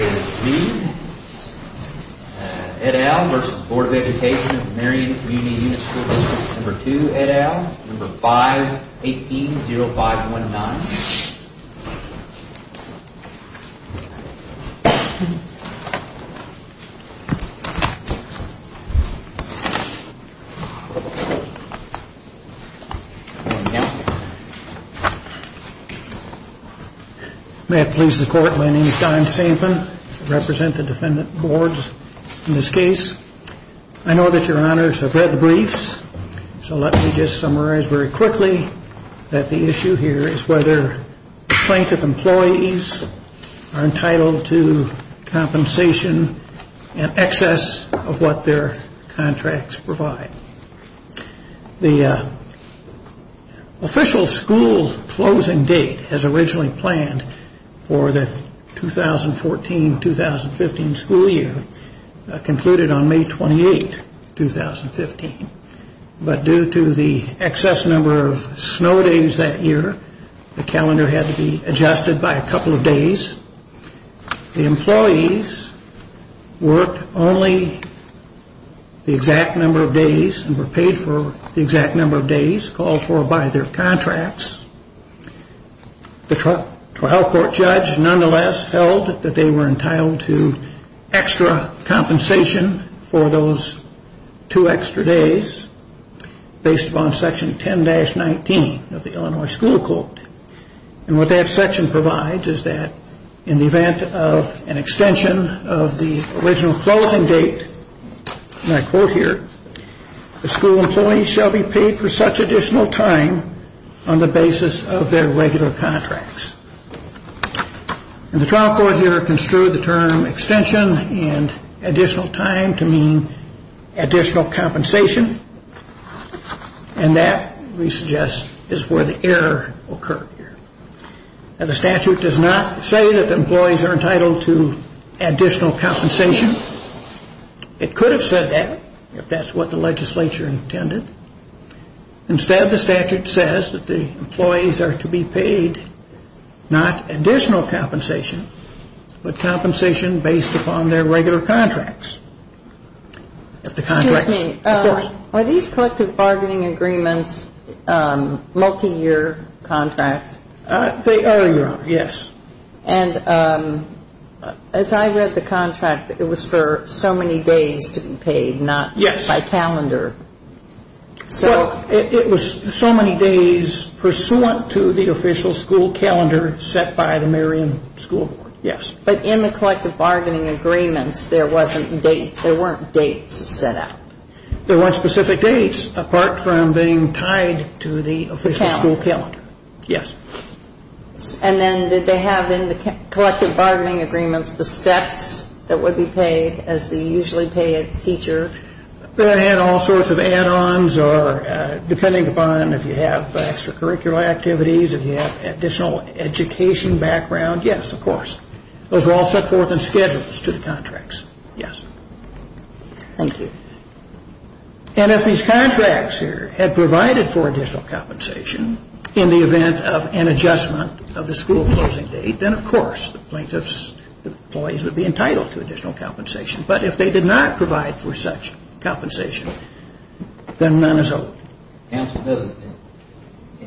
Unit School District No. 2, Ed. v. Board of Education, No. 5, 18-0519. May it please the Court, my name is Don Sampen. I represent the Defendant Boards in this case. I know that your Honors have read the briefs, so let me just summarize very quickly that the issue here is whether plaintiff employees are entitled to compensation in excess of what their contracts provide. The official school closing date as originally planned for the 2014-2015 school year concluded on May 28, 2015, but due to the excess number of snow days that year, the calendar had to be adjusted by a couple of days. The employees worked only the exact number of days and were paid for the exact number of days called for by their contracts. The trial court judge nonetheless held that they were entitled to extra compensation for those two extra days based upon Section 10-19 of the Illinois School Code. What that section provides is that in the event of an extension of the original closing date, the school employees shall be paid for such additional time on the basis of their regular contracts. The trial court here construed the term extension and additional time to mean additional compensation, and that, we suggest, is where the error occurred. The statute does not say that the employees are entitled to additional compensation. It could have said that if that's what the legislature intended. Instead, the statute says that the employees are to be paid not additional compensation, but compensation based upon their regular contracts. Excuse me. Are these collective bargaining agreements multi-year contracts? They are, Your Honor, yes. And as I read the contract, it was for so many days to be paid, not by calendar. Yes. Well, it was so many days pursuant to the official school calendar set by the Marion School Board, yes. But in the collective bargaining agreements, there weren't dates set out. There weren't specific dates, apart from being tied to the official school calendar. Calendar. Yes. And then did they have in the collective bargaining agreements the steps that would be paid as the usually paid teacher? They had all sorts of add-ons, depending upon if you have extracurricular activities, if you have additional education background. Yes, of course. Those were all set forth in schedules to the contracts. Yes. Thank you. And if these contracts here had provided for additional compensation in the event of an adjustment of the school closing date, then, of course, the plaintiff's employees would be entitled to additional compensation. But if they did not provide for such compensation, then none is owed. Counsel,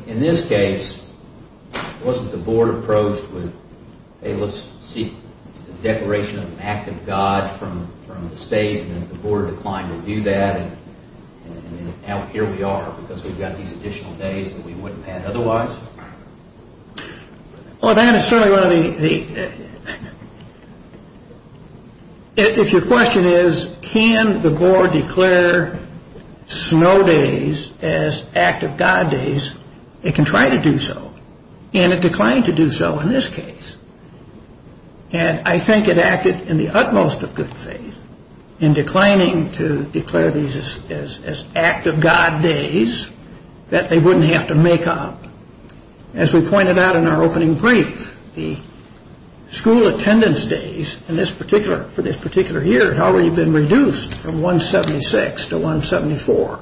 in this case, wasn't the board approached with, hey, let's seek a declaration of an act of God from the state, and then the board declined to do that, and now here we are because we've got these additional days that we wouldn't have had otherwise? Well, that is certainly one of the – if your question is, can the board declare snow days as act of God days, it can try to do so, and it declined to do so in this case. And I think it acted in the utmost of good faith in declining to declare these as act of God days that they wouldn't have to make up. As we pointed out in our opening brief, the school attendance days in this particular – for this particular year had already been reduced from 176 to 174.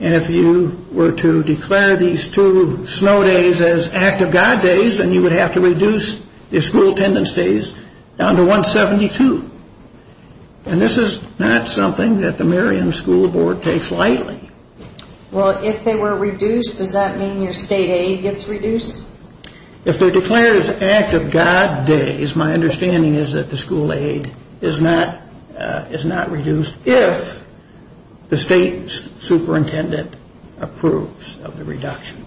And if you were to declare these two snow days as act of God days, then you would have to reduce the school attendance days down to 172. And this is not something that the Merriam School Board takes lightly. Well, if they were reduced, does that mean your state aid gets reduced? If they're declared as act of God days, my understanding is that the school aid is not reduced if the state superintendent approves of the reduction.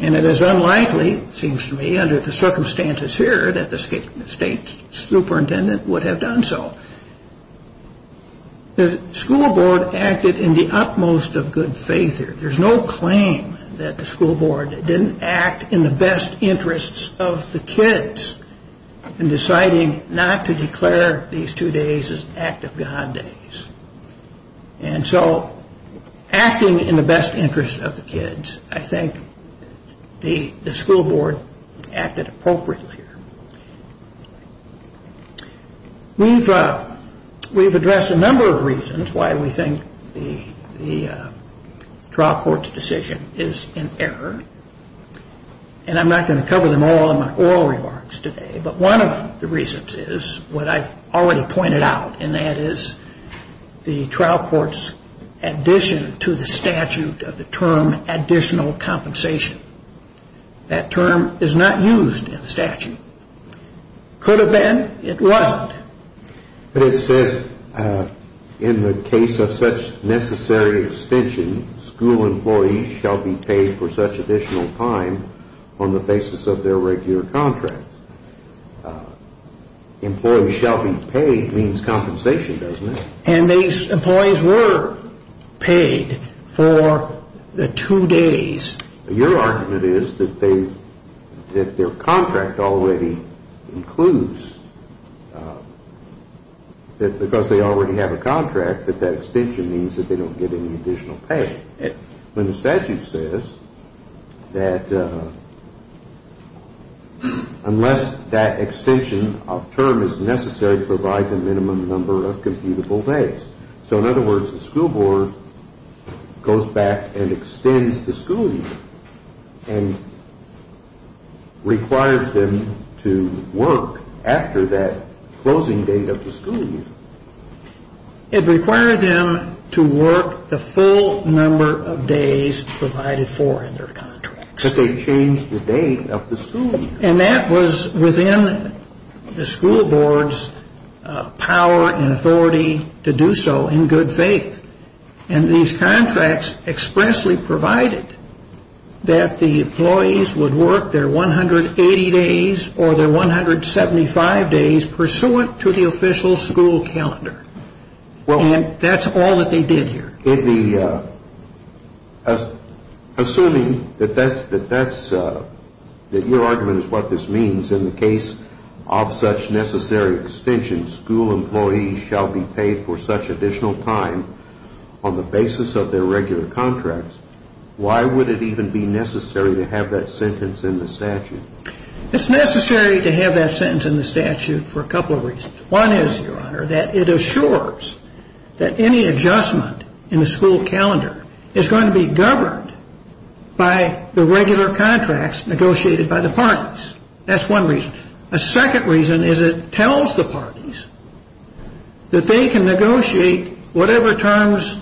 And it is unlikely, it seems to me, under the circumstances here that the state superintendent would have done so. The school board acted in the utmost of good faith here. There's no claim that the school board didn't act in the best interests of the kids in deciding not to declare these two days as act of God days. And so acting in the best interest of the kids, I think the school board acted appropriately here. We've addressed a number of reasons why we think the trial court's decision is in error. And I'm not going to cover them all in my oral remarks today. But one of the reasons is what I've already pointed out, and that is the trial court's addition to the statute of the term additional compensation. That term is not used in the statute. Could have been, it wasn't. But it says in the case of such necessary extension, school employees shall be paid for such additional time on the basis of their regular contracts. Employees shall be paid means compensation, doesn't it? And these employees were paid for the two days. Your argument is that their contract already includes, because they already have a contract, that that extension means that they don't get any additional pay. When the statute says that unless that extension of term is necessary to provide the minimum number of computable days. So in other words, the school board goes back and extends the school year and requires them to work after that closing date of the school year. It required them to work the full number of days provided for in their contracts. But they changed the date of the school year. And that was within the school board's power and authority to do so in good faith. And these contracts expressly provided that the employees would work their 180 days or their 175 days pursuant to the official school calendar. And that's all that they did here. Assuming that your argument is what this means in the case of such necessary extension, school employees shall be paid for such additional time on the basis of their regular contracts, why would it even be necessary to have that sentence in the statute? It's necessary to have that sentence in the statute for a couple of reasons. One is, Your Honor, that it assures that any adjustment in the school calendar is going to be governed by the regular contracts negotiated by the parties. That's one reason. A second reason is it tells the parties that they can negotiate whatever terms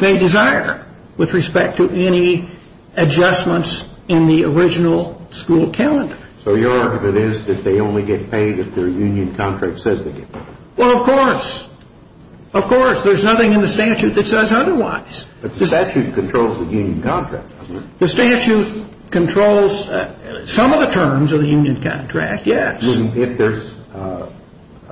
they desire with respect to any adjustments in the original school calendar. So your argument is that they only get paid if their union contract says they get paid? Well, of course. Of course. There's nothing in the statute that says otherwise. But the statute controls the union contract, doesn't it? The statute controls some of the terms of the union contract, yes. If there's a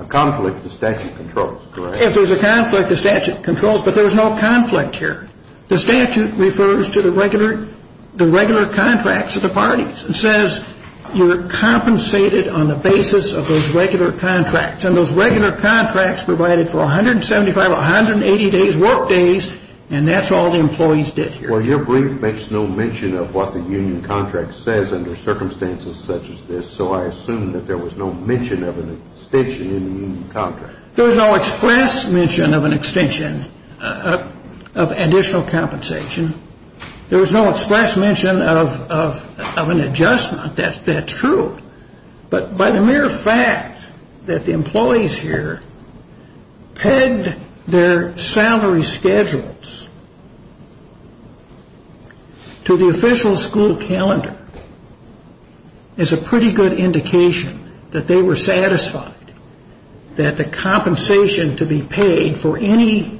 conflict, the statute controls, correct? If there's a conflict, the statute controls. But there's no conflict here. The statute refers to the regular contracts of the parties and says you're compensated on the basis of those regular contracts. And those regular contracts provided for 175, 180 days' work days, and that's all the employees did here. Well, your brief makes no mention of what the union contract says under circumstances such as this, so I assume that there was no mention of an extension in the union contract. There was no express mention of an extension of additional compensation. There was no express mention of an adjustment. That's true. But by the mere fact that the employees here pegged their salary schedules to the official school calendar is a pretty good indication that they were satisfied that the compensation to be paid for any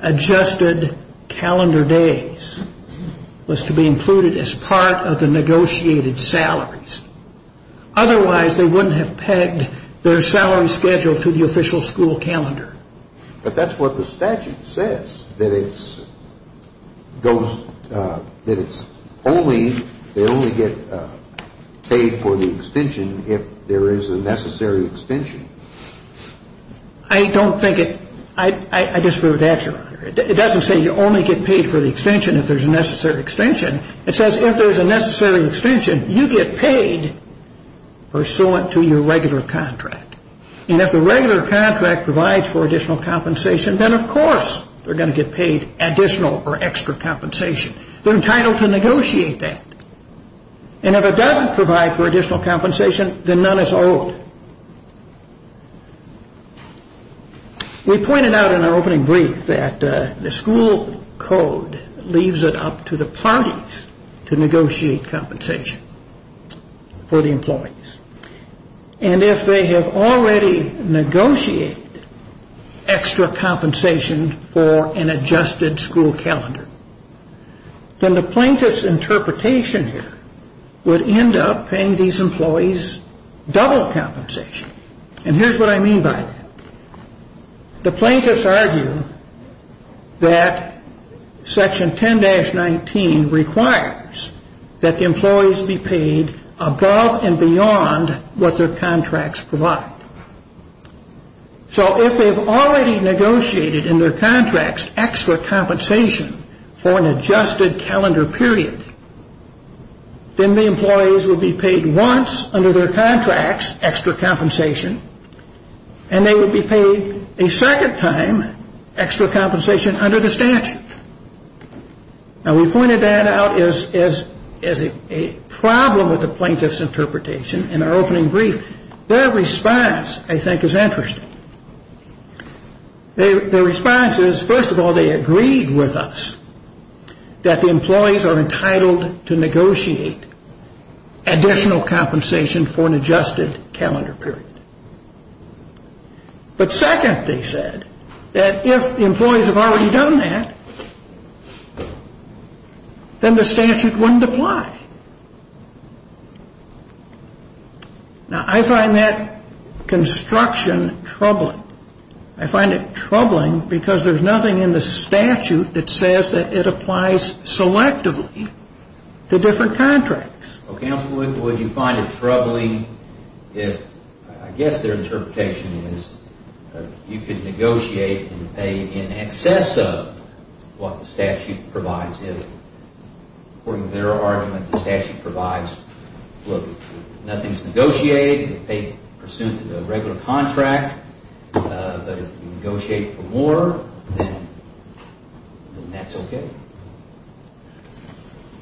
adjusted calendar days was to be included as part of the negotiated salaries. Otherwise, they wouldn't have pegged their salary schedule to the official school calendar. But that's what the statute says, that it's only they only get paid for the extension if there is a necessary extension. I don't think it – I disagree with that, Your Honor. It doesn't say you only get paid for the extension if there's a necessary extension. It says if there's a necessary extension, you get paid pursuant to your regular contract. And if the regular contract provides for additional compensation, then of course they're going to get paid additional or extra compensation. They're entitled to negotiate that. And if it doesn't provide for additional compensation, then none is owed. We pointed out in our opening brief that the school code leaves it up to the parties to negotiate compensation for the employees. And if they have already negotiated extra compensation for an adjusted school calendar, then the plaintiff's interpretation here would end up paying these employees double compensation. And here's what I mean by that. The plaintiffs argue that Section 10-19 requires that the employees be paid above and beyond what their contracts provide. So if they've already negotiated in their contracts extra compensation for an adjusted calendar period, then the employees will be paid once under their contracts extra compensation, and they will be paid a second time extra compensation under the statute. Now, we pointed that out as a problem with the plaintiff's interpretation in our opening brief. Their response, I think, is interesting. Their response is, first of all, they agreed with us that the employees are entitled to negotiate additional compensation for an adjusted calendar period. But second, they said, that if the employees have already done that, then the statute wouldn't apply. Now, I find that construction troubling. I find it troubling because there's nothing in the statute that says that it applies selectively to different contracts. Counsel, would you find it troubling if, I guess their interpretation is, you could negotiate and pay in excess of what the statute provides if, according to their argument, the statute provides, look, nothing's negotiated, you could pay pursuant to the regular contract, but if you negotiate for more, then that's okay?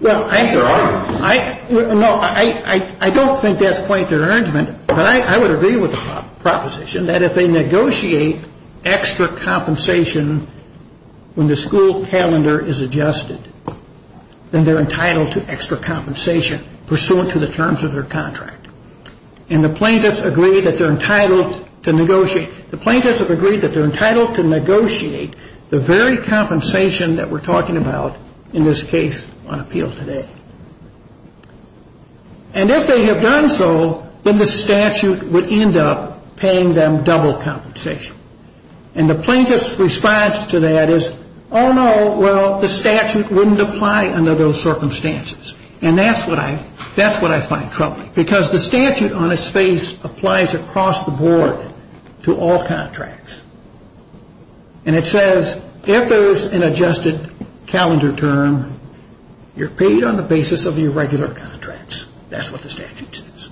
Well, I think there are arguments. No, I don't think that's quite their argument. But I would agree with the proposition that if they negotiate extra compensation when the school calendar is adjusted, then they're entitled to extra compensation pursuant to the terms of their contract. And the plaintiffs agree that they're entitled to negotiate. The plaintiffs have agreed that they're entitled to negotiate the very compensation that we're talking about, in this case, on appeal today. And if they have done so, then the statute would end up paying them double compensation. And the plaintiff's response to that is, oh, no, well, the statute wouldn't apply under those circumstances. And that's what I find troubling, because the statute on its face applies across the board to all contracts. And it says, if there's an adjusted calendar term, you're paid on the basis of your regular contracts. That's what the statute says.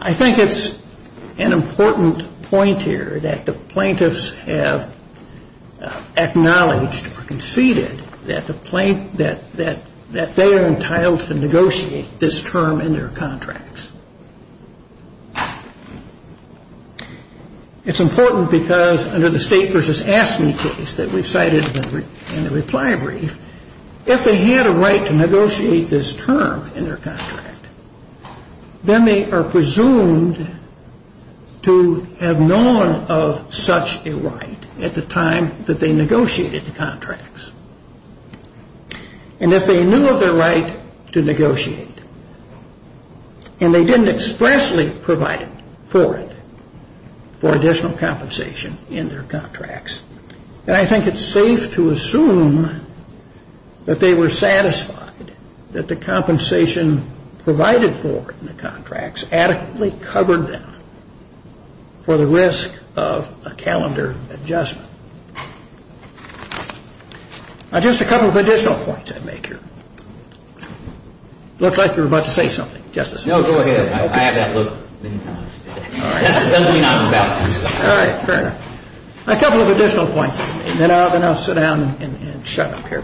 I think it's an important point here that the plaintiffs have acknowledged or conceded that they are entitled to negotiate this term in their contracts. It's important because under the state versus AFSCME case that we've cited in the reply brief, if they had a right to negotiate this term in their contract, then they are presumed to have known of such a right at the time that they negotiated the contracts. And if they knew of their right to negotiate, and they didn't expressly provide for it, for additional compensation in their contracts, then I think it's safe to assume that they were satisfied that the compensation provided for in the contracts adequately covered them for the risk of a calendar adjustment. Now, just a couple of additional points I'd make here. Looks like you were about to say something, Justice. No, go ahead. I have that look many times. All right. Fair enough. A couple of additional points, and then I'll sit down and shut up here.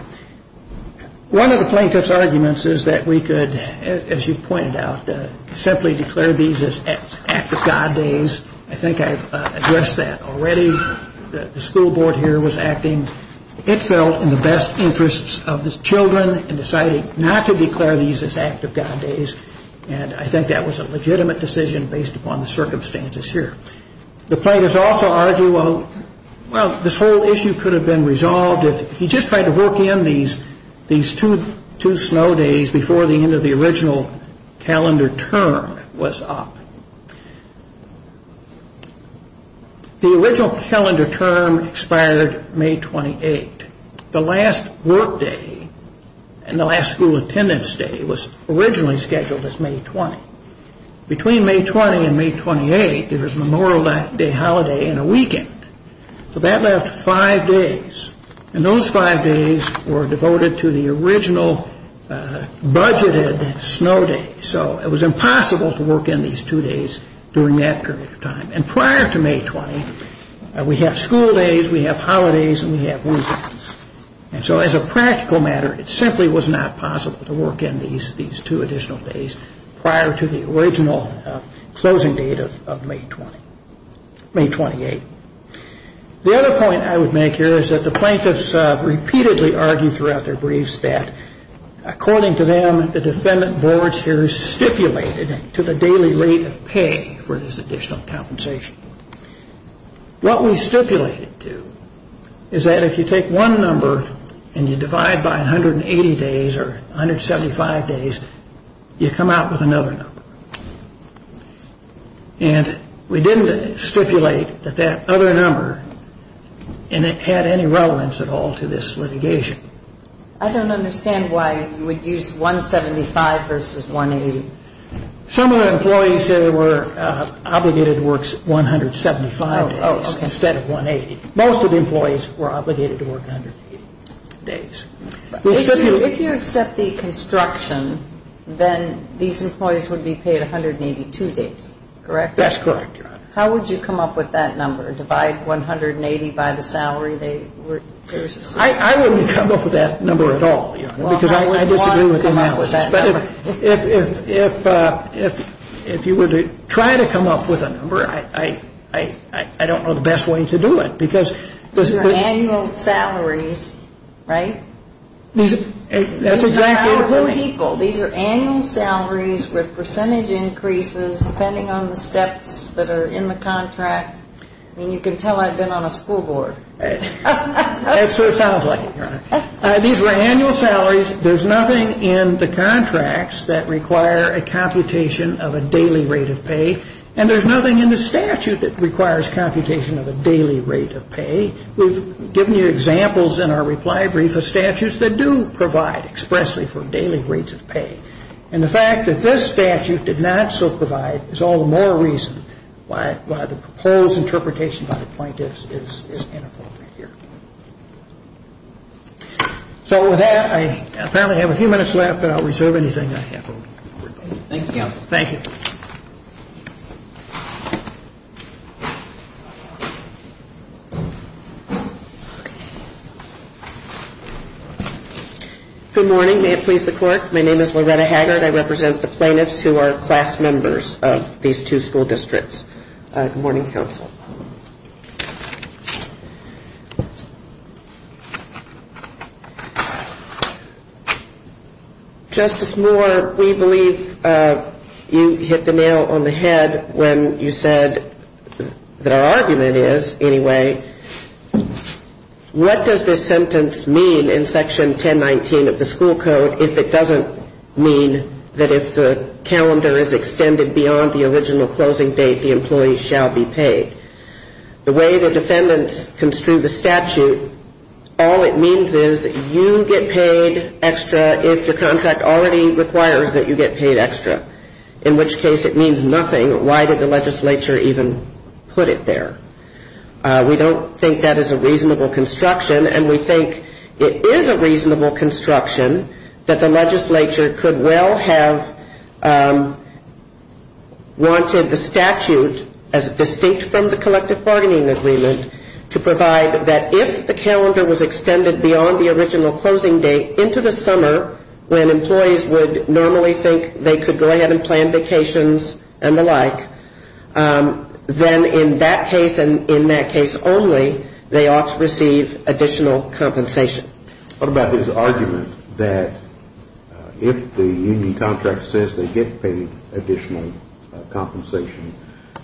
One of the plaintiff's arguments is that we could, as you've pointed out, simply declare these as act of God days. I think I've addressed that already. The school board here was acting, it felt, in the best interests of the children in deciding not to declare these as act of God days, and I think that was a legitimate decision based upon the circumstances here. The plaintiffs also argue, well, this whole issue could have been resolved if he just tried to work in these two snow days before the end of the original calendar term was up. The original calendar term expired May 28. The last work day and the last school attendance day was originally scheduled as May 20. Between May 20 and May 28, there was Memorial Day holiday and a weekend. So that left five days, and those five days were devoted to the original budgeted snow day. So it was impossible to work in these two days during that period of time. And prior to May 20, we have school days, we have holidays, and we have weekends. And so as a practical matter, it simply was not possible to work in these two additional days prior to the original closing date of May 28. The other point I would make here is that the plaintiffs repeatedly argue throughout their briefs that according to them, the defendant boards here stipulated to the daily rate of pay for this additional compensation. What we stipulated to is that if you take one number and you divide by 180 days or 175 days, you come out with another number. And we didn't stipulate that that other number had any relevance at all to this litigation. I don't understand why you would use 175 versus 180. Some of the employees were obligated to work 175 days instead of 180. Most of the employees were obligated to work 180 days. If you accept the construction, then these employees would be paid 182 days, correct? That's correct, Your Honor. How would you come up with that number? Divide 180 by the salary they received? I wouldn't come up with that number at all, Your Honor, because I disagree with the analysis. If you were to try to come up with a number, I don't know the best way to do it. Annual salaries, right? These are annual salaries with percentage increases depending on the steps that are in the contract. I mean, you can tell I've been on a school board. That sort of sounds like it, Your Honor. These were annual salaries. There's nothing in the contracts that require a computation of a daily rate of pay, and there's nothing in the statute that requires computation of a daily rate of pay. We've given you examples in our reply brief of statutes that do provide expressly for daily rates of pay. And the fact that this statute did not so provide is all the more reason why the proposed interpretation by the plaintiffs is inappropriate here. So with that, I apparently have a few minutes left, but I'll reserve anything I have. Thank you, counsel. Thank you. Good morning. May it please the Court. My name is Loretta Haggard. I represent the plaintiffs who are class members of these two school districts. Good morning, counsel. Justice Moore, we believe you hit the nail on the head when you said that our argument is, anyway, what does this sentence mean in Section 1019 of the school code if it doesn't mean that if the calendar is extended beyond the original closing date, the employee shall be paid? The way the defendants construe the statute, all it means is you get paid extra if your contract already requires that you get paid extra, in which case it means nothing. Why did the legislature even put it there? We don't think that is a reasonable construction, and we think it is a reasonable construction that the legislature could well have wanted the statute, as distinct from the collective bargaining agreement, to provide that if the calendar was extended beyond the original closing date into the summer, when employees would normally think they could go ahead and plan vacations and the like, then in that case and in that case only, they ought to receive additional compensation. What about this argument that if the union contract says they get paid additional compensation,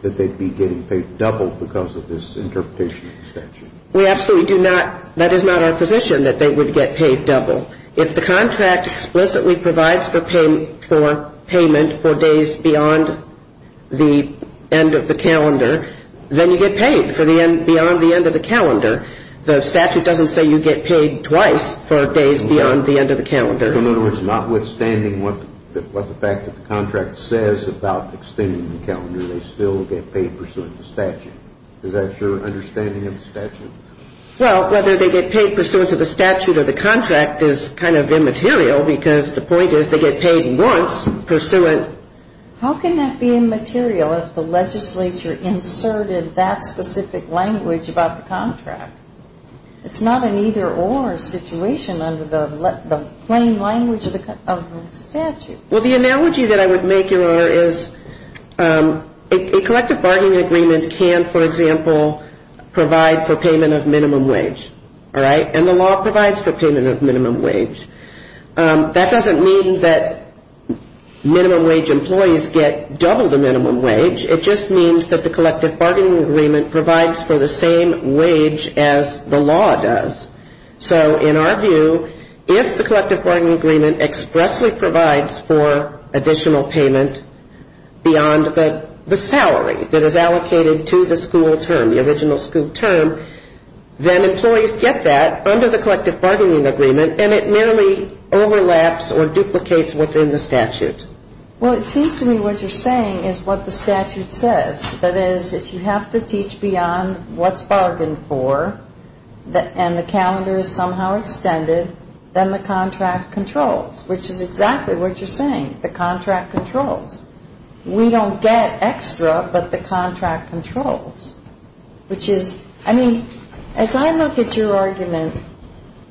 that they'd be getting paid double because of this interpretation of the statute? We absolutely do not. That is not our position, that they would get paid double. If the contract explicitly provides for payment for days beyond the end of the calendar, then you get paid beyond the end of the calendar. The statute doesn't say you get paid twice for days beyond the end of the calendar. In other words, notwithstanding what the fact that the contract says about extending the calendar, they still get paid pursuant to statute. Is that your understanding of the statute? Well, whether they get paid pursuant to the statute or the contract is kind of immaterial because the point is they get paid once pursuant. How can that be immaterial if the legislature inserted that specific language about the contract? It's not an either-or situation under the plain language of the statute. Well, the analogy that I would make, Your Honor, is a collective bargaining agreement can, for example, provide for payment of minimum wage, all right, and the law provides for payment of minimum wage. That doesn't mean that minimum wage employees get double the minimum wage. It just means that the collective bargaining agreement provides for the same wage as the law does. So in our view, if the collective bargaining agreement expressly provides for additional payment beyond the salary that is allocated to the school term, the original school term, then employees get that under the collective bargaining agreement, and it merely overlaps or duplicates what's in the statute. Well, it seems to me what you're saying is what the statute says. That is, if you have to teach beyond what's bargained for and the calendar is somehow extended, then the contract controls, which is exactly what you're saying. The contract controls. We don't get extra, but the contract controls, which is, I mean, as I look at your argument,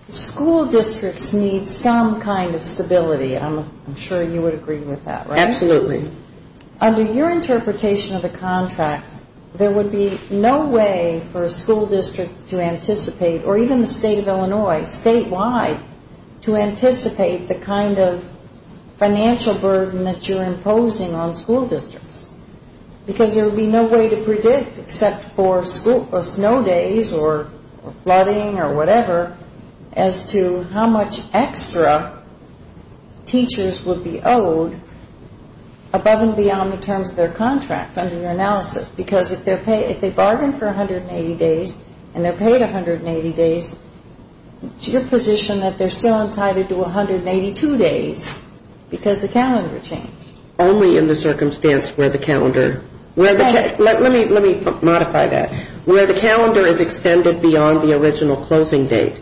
school districts need some kind of stability. I'm sure you would agree with that, right? Absolutely. Under your interpretation of the contract, there would be no way for a school district to anticipate, or even the state of Illinois, statewide, to anticipate the kind of financial burden that you're imposing on school districts. Because there would be no way to predict except for snow days or flooding or whatever as to how much extra teachers would be owed above and beyond the terms of their contract under your analysis. Because if they bargain for 180 days and they're paid 180 days, it's your position that they're still entitled to 182 days because the calendar changed. Only in the circumstance where the calendar. Let me modify that. Where the calendar is extended beyond the original closing date.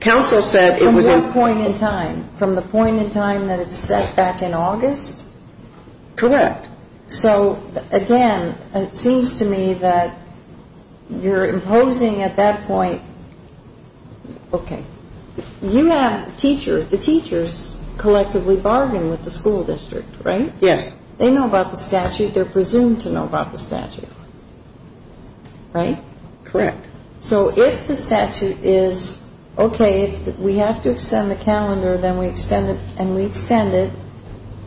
From what point in time? From the point in time that it's set back in August? Correct. So, again, it seems to me that you're imposing at that point. Okay. You have teachers. The teachers collectively bargain with the school district, right? Yes. They know about the statute. They're presumed to know about the statute. Right? Correct. So if the statute is, okay, we have to extend the calendar and we extend it,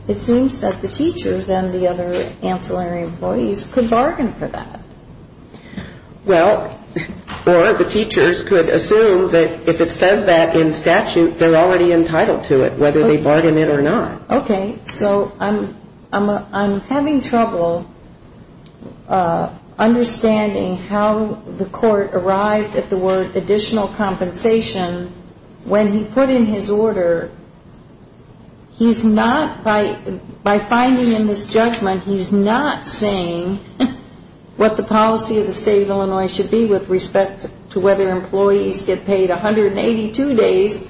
it seems that the teachers and the other ancillary employees could bargain for that. Well, or the teachers could assume that if it says that in statute, they're already entitled to it whether they bargain it or not. Okay. So I'm having trouble understanding how the court arrived at the word additional compensation when he put in his order, he's not, by finding in this judgment, he's not saying what the policy of the state of Illinois should be with respect to whether employees get paid 182 days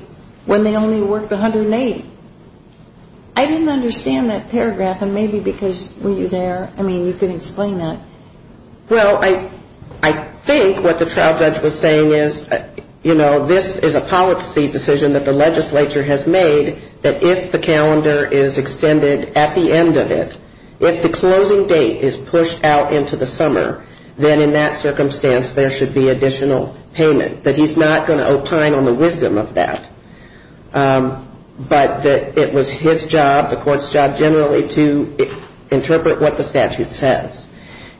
when they only worked 180. I didn't understand that paragraph, and maybe because, were you there? I mean, you could explain that. Well, I think what the trial judge was saying is, you know, this is a policy decision that the legislature has made that if the calendar is extended at the end of it, if the closing date is pushed out into the summer, then in that circumstance, there should be additional payment, that he's not going to opine on the wisdom of that, but that it was his job, the court's job, generally to interpret what the statute says.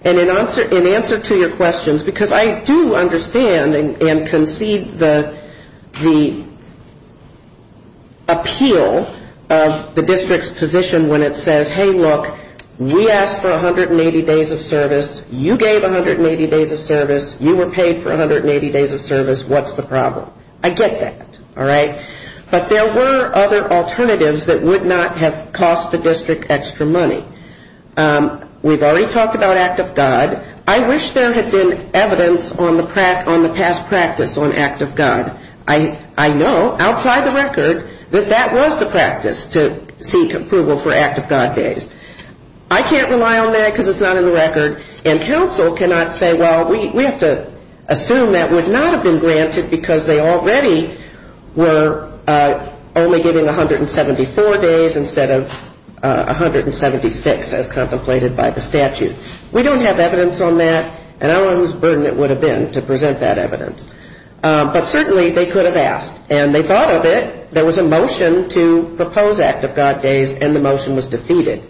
And in answer to your questions, because I do understand and concede the appeal of the district's position when it says, hey, look, we asked for 180 days of service, you gave 180 days of service, you were paid for 180 days of service, what's the problem? I get that. All right? But there were other alternatives that would not have cost the district extra money. We've already talked about Act of God. I wish there had been evidence on the past practice on Act of God. I know, outside the record, that that was the practice, to seek approval for Act of God days. I can't rely on that because it's not in the record, and counsel cannot say, well, we have to assume that would not have been granted because they already were only giving 174 days instead of 176 days. And so we have to assume that would not have been granted because it's not in the record. And so we have to assume that would not have been granted because they already were only giving 174 days instead of 176 days, as contemplated by the statute. We don't have evidence on that, and I don't know whose burden it would have been to present that evidence. But certainly, they could have asked. And they thought of it. There was a motion to propose Act of God days, and the motion was defeated.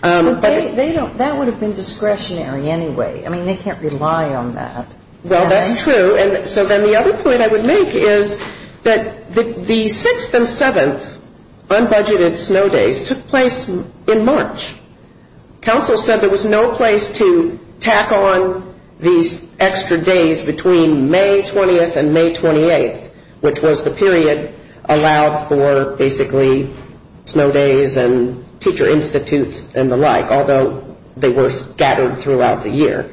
But that would have been discretionary anyway. I mean, they can't rely on that. Well, that's true. And so then the other point I would make is that the 6th and 7th unbudgeted snow days took place in March. Counsel said there was no place to tack on these extra days between May 20th and May 28th, which was the period allowed for basically snow days and teacher institutes and the like, although they were scattered throughout the year.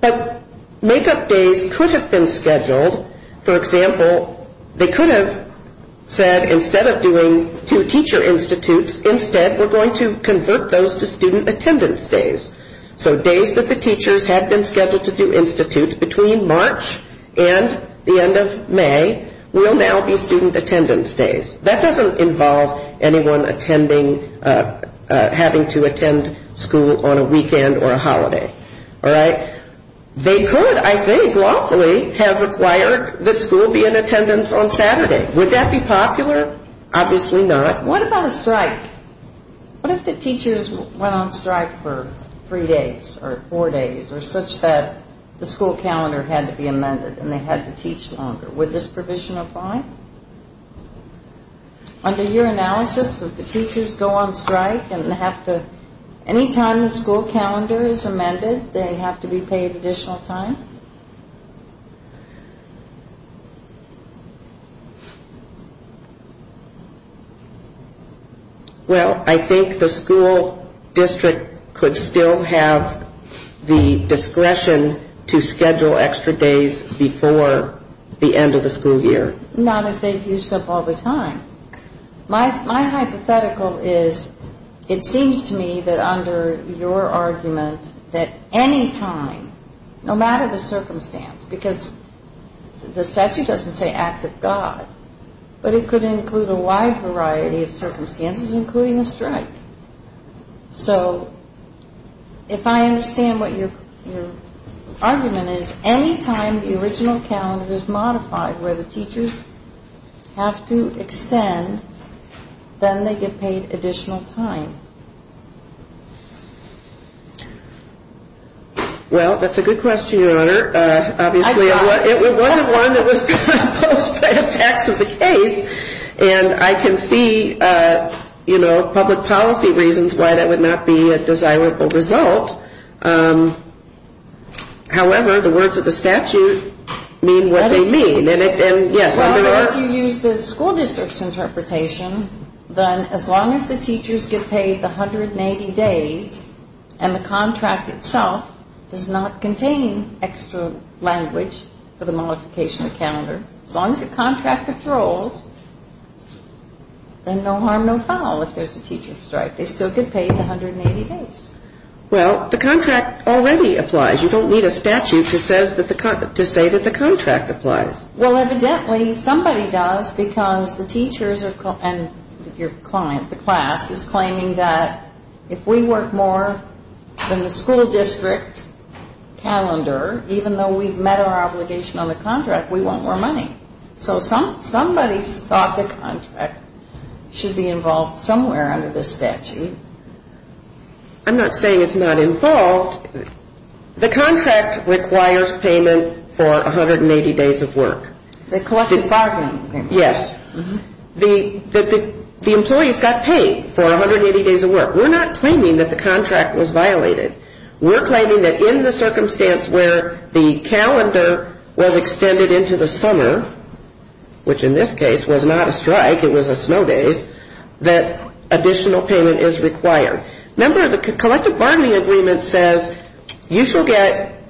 But make-up days could have been scheduled. For example, they could have said instead of doing two teacher institutes, instead we're going to convert those to student attendance days. So days that the teachers had been scheduled to do institutes between March and the end of May will now be student attendance days. That doesn't involve anyone attending, having to attend school on a weekend or a holiday. All right? They could, I think lawfully, have required that school be in attendance on Saturday. Would that be popular? Obviously not. What about a strike? What if the teachers went on strike for three days or four days or such that the school calendar had to be amended and they had to teach longer? Would this provision apply? Under your analysis, if the teachers go on strike and have to, Any time the school calendar is amended, they have to be paid additional time? Well, I think the school district could still have the discretion to schedule extra days before the end of the school year. Not if they've used up all the time. My hypothetical is it seems to me that under your argument that any time, no matter the circumstance, because the statute doesn't say act of God, but it could include a wide variety of circumstances, including a strike. So if I understand what your argument is, any time the original calendar is modified where the teachers have to extend, then they get paid additional time. Well, that's a good question, Your Honor. Obviously, it was one that was proposed by a tax of the case, and I can see public policy reasons why that would not be a desirable result. However, the words of the statute mean what they mean. Well, if you use the school district's interpretation, then as long as the teachers get paid the 180 days, and the contract itself does not contain extra language for the modification of the calendar, as long as the contract controls, then no harm, no foul if there's a teacher strike. They still get paid the 180 days. Well, the contract already applies. You don't need a statute to say that the contract applies. Well, evidently, somebody does because the teachers and your client, the class, is claiming that if we work more than the school district calendar, even though we've met our obligation on the contract, we want more money. So somebody thought the contract should be involved somewhere under this statute. I'm not saying it's not involved. The contract requires payment for 180 days of work. The collective bargaining payment. Yes. The employees got paid for 180 days of work. We're not claiming that the contract was violated. We're claiming that in the circumstance where the calendar was extended into the summer, which in this case was not a strike, it was a snow day, that additional payment is required. Remember, the collective bargaining agreement says you shall get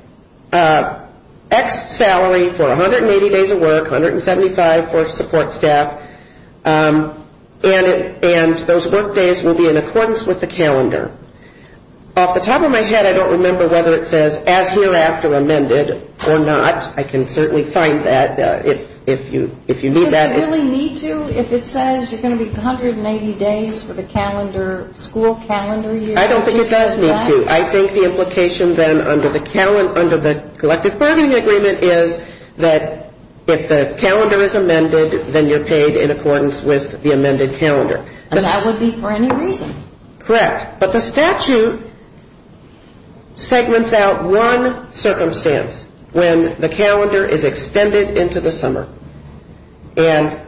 X salary for 180 days of work, 175 for support staff, and those work days will be in accordance with the calendar. Off the top of my head, I don't remember whether it says as hereafter amended or not. I can certainly find that if you need that. Does it really need to if it says you're going to be 180 days for the calendar, school calendar year? I don't think it does need to. I think the implication then under the collective bargaining agreement is that if the calendar is amended, then you're paid in accordance with the amended calendar. And that would be for any reason. Correct. But the statute segments out one circumstance when the calendar is extended into the summer. And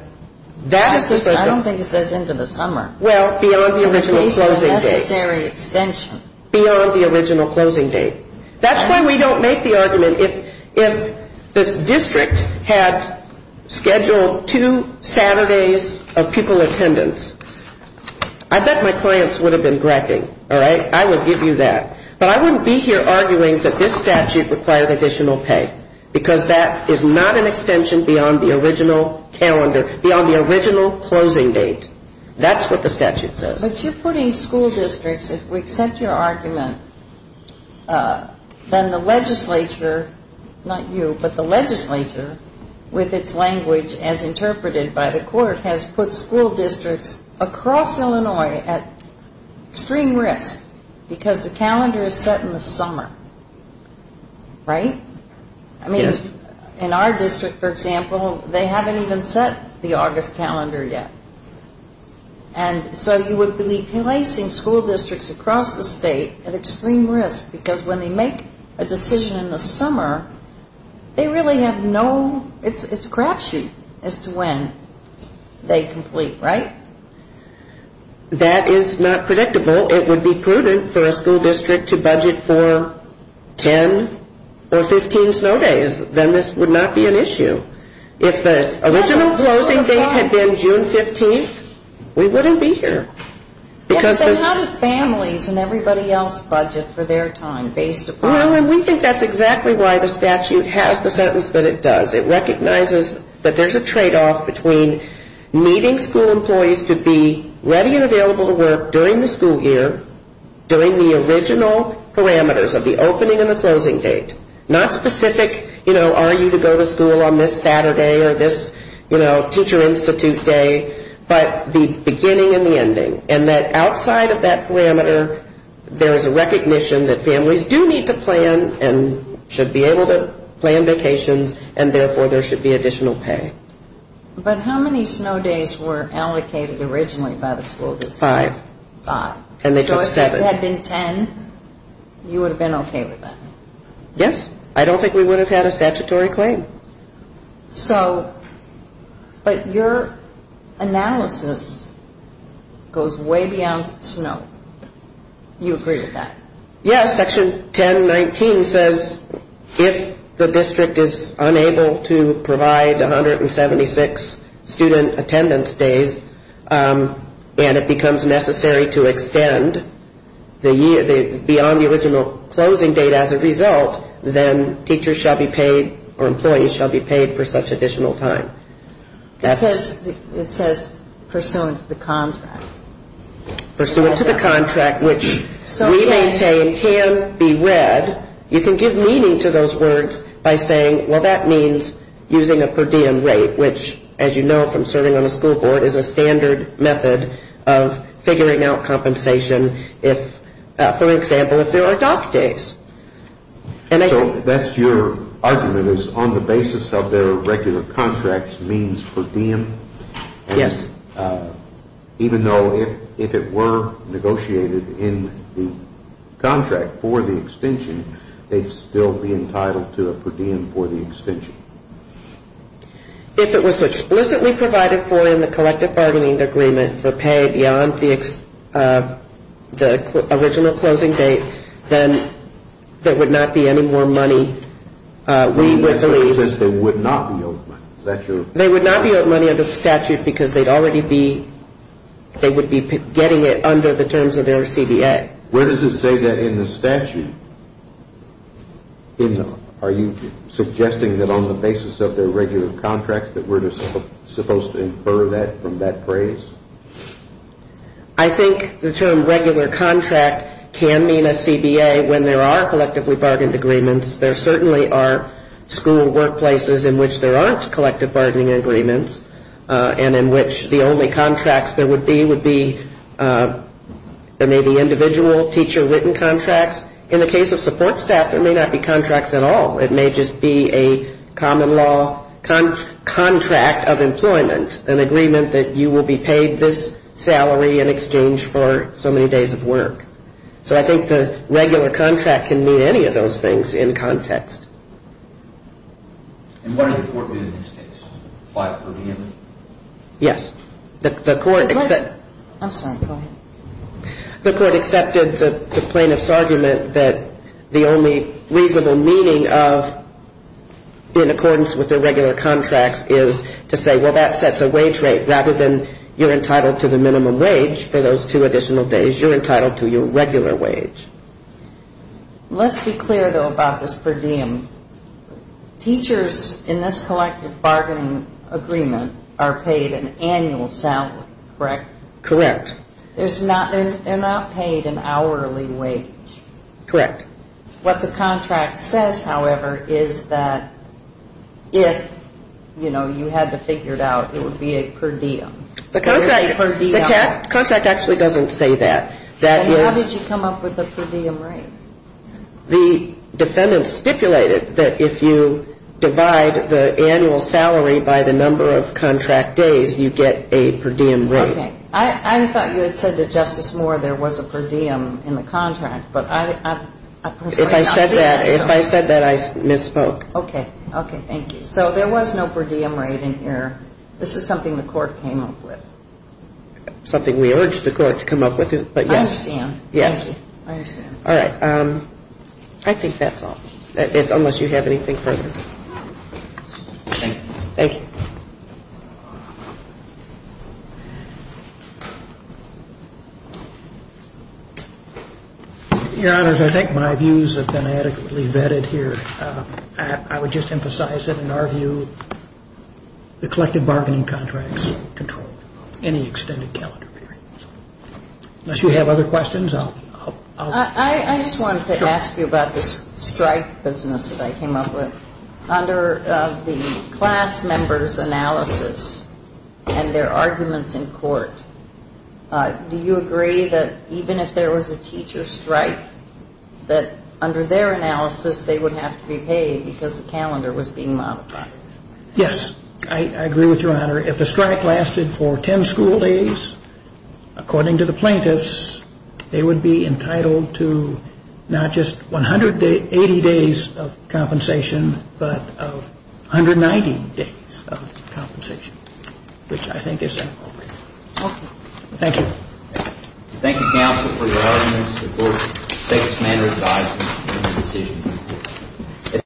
that is the circumstance. I don't think it says into the summer. Well, beyond the original closing date. At least a necessary extension. Beyond the original closing date. That's why we don't make the argument if this district had scheduled two Saturdays of pupil attendance. I bet my clients would have been gregging. All right? I would give you that. But I wouldn't be here arguing that this statute required additional pay, because that is not an extension beyond the original calendar, beyond the original closing date. That's what the statute says. But you're putting school districts. If we accept your argument, then the legislature, not you, but the legislature, with its language as interpreted by the court, has put school districts across Illinois at extreme risk because the calendar is set in the summer. Right? Yes. I mean, in our district, for example, they haven't even set the August calendar yet. And so you would be placing school districts across the state at extreme risk because when they make a decision in the summer, they really have no, it's a crapshoot as to when they complete. Right? That is not predictable. It would be prudent for a school district to budget for 10 or 15 snow days. Then this would not be an issue. If the original closing date had been June 15th, we wouldn't be here. How do families and everybody else budget for their time based upon? Well, we think that's exactly why the statute has the sentence that it does. It recognizes that there's a tradeoff between meeting school employees to be ready and available to work during the school year, during the original parameters of the opening and the closing date, not specific, you know, are you to go to school on this Saturday or this, you know, teacher institute day, but the beginning and the ending. And that outside of that parameter, there is a recognition that families do need to plan and should be able to plan vacations, and therefore there should be additional pay. But how many snow days were allocated originally by the school district? Five. Five. And they took seven. So if it had been 10, you would have been okay with that? Yes. I don't think we would have had a statutory claim. So, but your analysis goes way beyond snow. You agree with that? Yes. Section 1019 says if the district is unable to provide 176 student attendance days and it becomes necessary to extend beyond the original closing date as a result, then teachers shall be paid or employees shall be paid for such additional time. It says pursuant to the contract. Pursuant to the contract, which we maintain can be read. You can give meaning to those words by saying, well, that means using a per diem rate, which, as you know from serving on the school board, is a standard method of figuring out compensation if, for example, if there are dock days. So that's your argument is on the basis of their regular contracts means per diem? Yes. Even though if it were negotiated in the contract for the extension, they'd still be entitled to a per diem for the extension? If it was explicitly provided for in the collective bargaining agreement for pay beyond the original closing date, then there would not be any more money we would believe. It says they would not be owed money. They would not be owed money under the statute because they would be getting it under the terms of their CBA. Where does it say that in the statute? Are you suggesting that on the basis of their regular contracts that we're just supposed to infer that from that phrase? I think the term regular contract can mean a CBA when there are collectively bargained agreements. There certainly are school workplaces in which there aren't collective bargaining agreements and in which the only contracts there would be would be maybe individual teacher written contracts. In the case of support staff, there may not be contracts at all. It may just be a common law contract of employment, an agreement that you will be paid this salary in exchange for so many days of work. So I think the regular contract can mean any of those things in context. And what did the court do in this case? Apply for a per diem? Yes. I'm sorry, go ahead. The court accepted the plaintiff's argument that the only reasonable meaning of in accordance with their regular contracts is to say, well, that sets a wage rate rather than you're entitled to the minimum wage for those two additional days. You're entitled to your regular wage. Let's be clear, though, about this per diem. Teachers in this collective bargaining agreement are paid an annual salary, correct? Correct. They're not paid an hourly wage. Correct. What the contract says, however, is that if, you know, you had to figure it out, it would be a per diem. The contract actually doesn't say that. Then how did you come up with the per diem rate? The defendant stipulated that if you divide the annual salary by the number of contract days, you get a per diem rate. Okay. I thought you had said to Justice Moore there was a per diem in the contract, but I personally did not see that. If I said that, I misspoke. Okay. Okay, thank you. So there was no per diem rate in here. This is something the court came up with. Something we urged the court to come up with, but yes. I understand. Yes. I understand. All right. I think that's all, unless you have anything further. Thank you. Your Honors, I think my views have been adequately vetted here. I would just emphasize that, in our view, the collective bargaining contracts control any extended calendar period. Unless you have other questions, I'll. I just wanted to ask you about the strike business that I came up with. And their arguments in court. Do you agree that even if there was a teacher strike, that under their analysis, they would have to be paid because the calendar was being modified? Yes. I agree with Your Honor. Your Honor, if the strike lasted for 10 school days, according to the plaintiffs, they would be entitled to not just 180 days of compensation, but 190 days of compensation, which I think is appropriate. Okay. Thank you. Thank you, counsel, for your arguments. The court takes manner of guidance in the decision.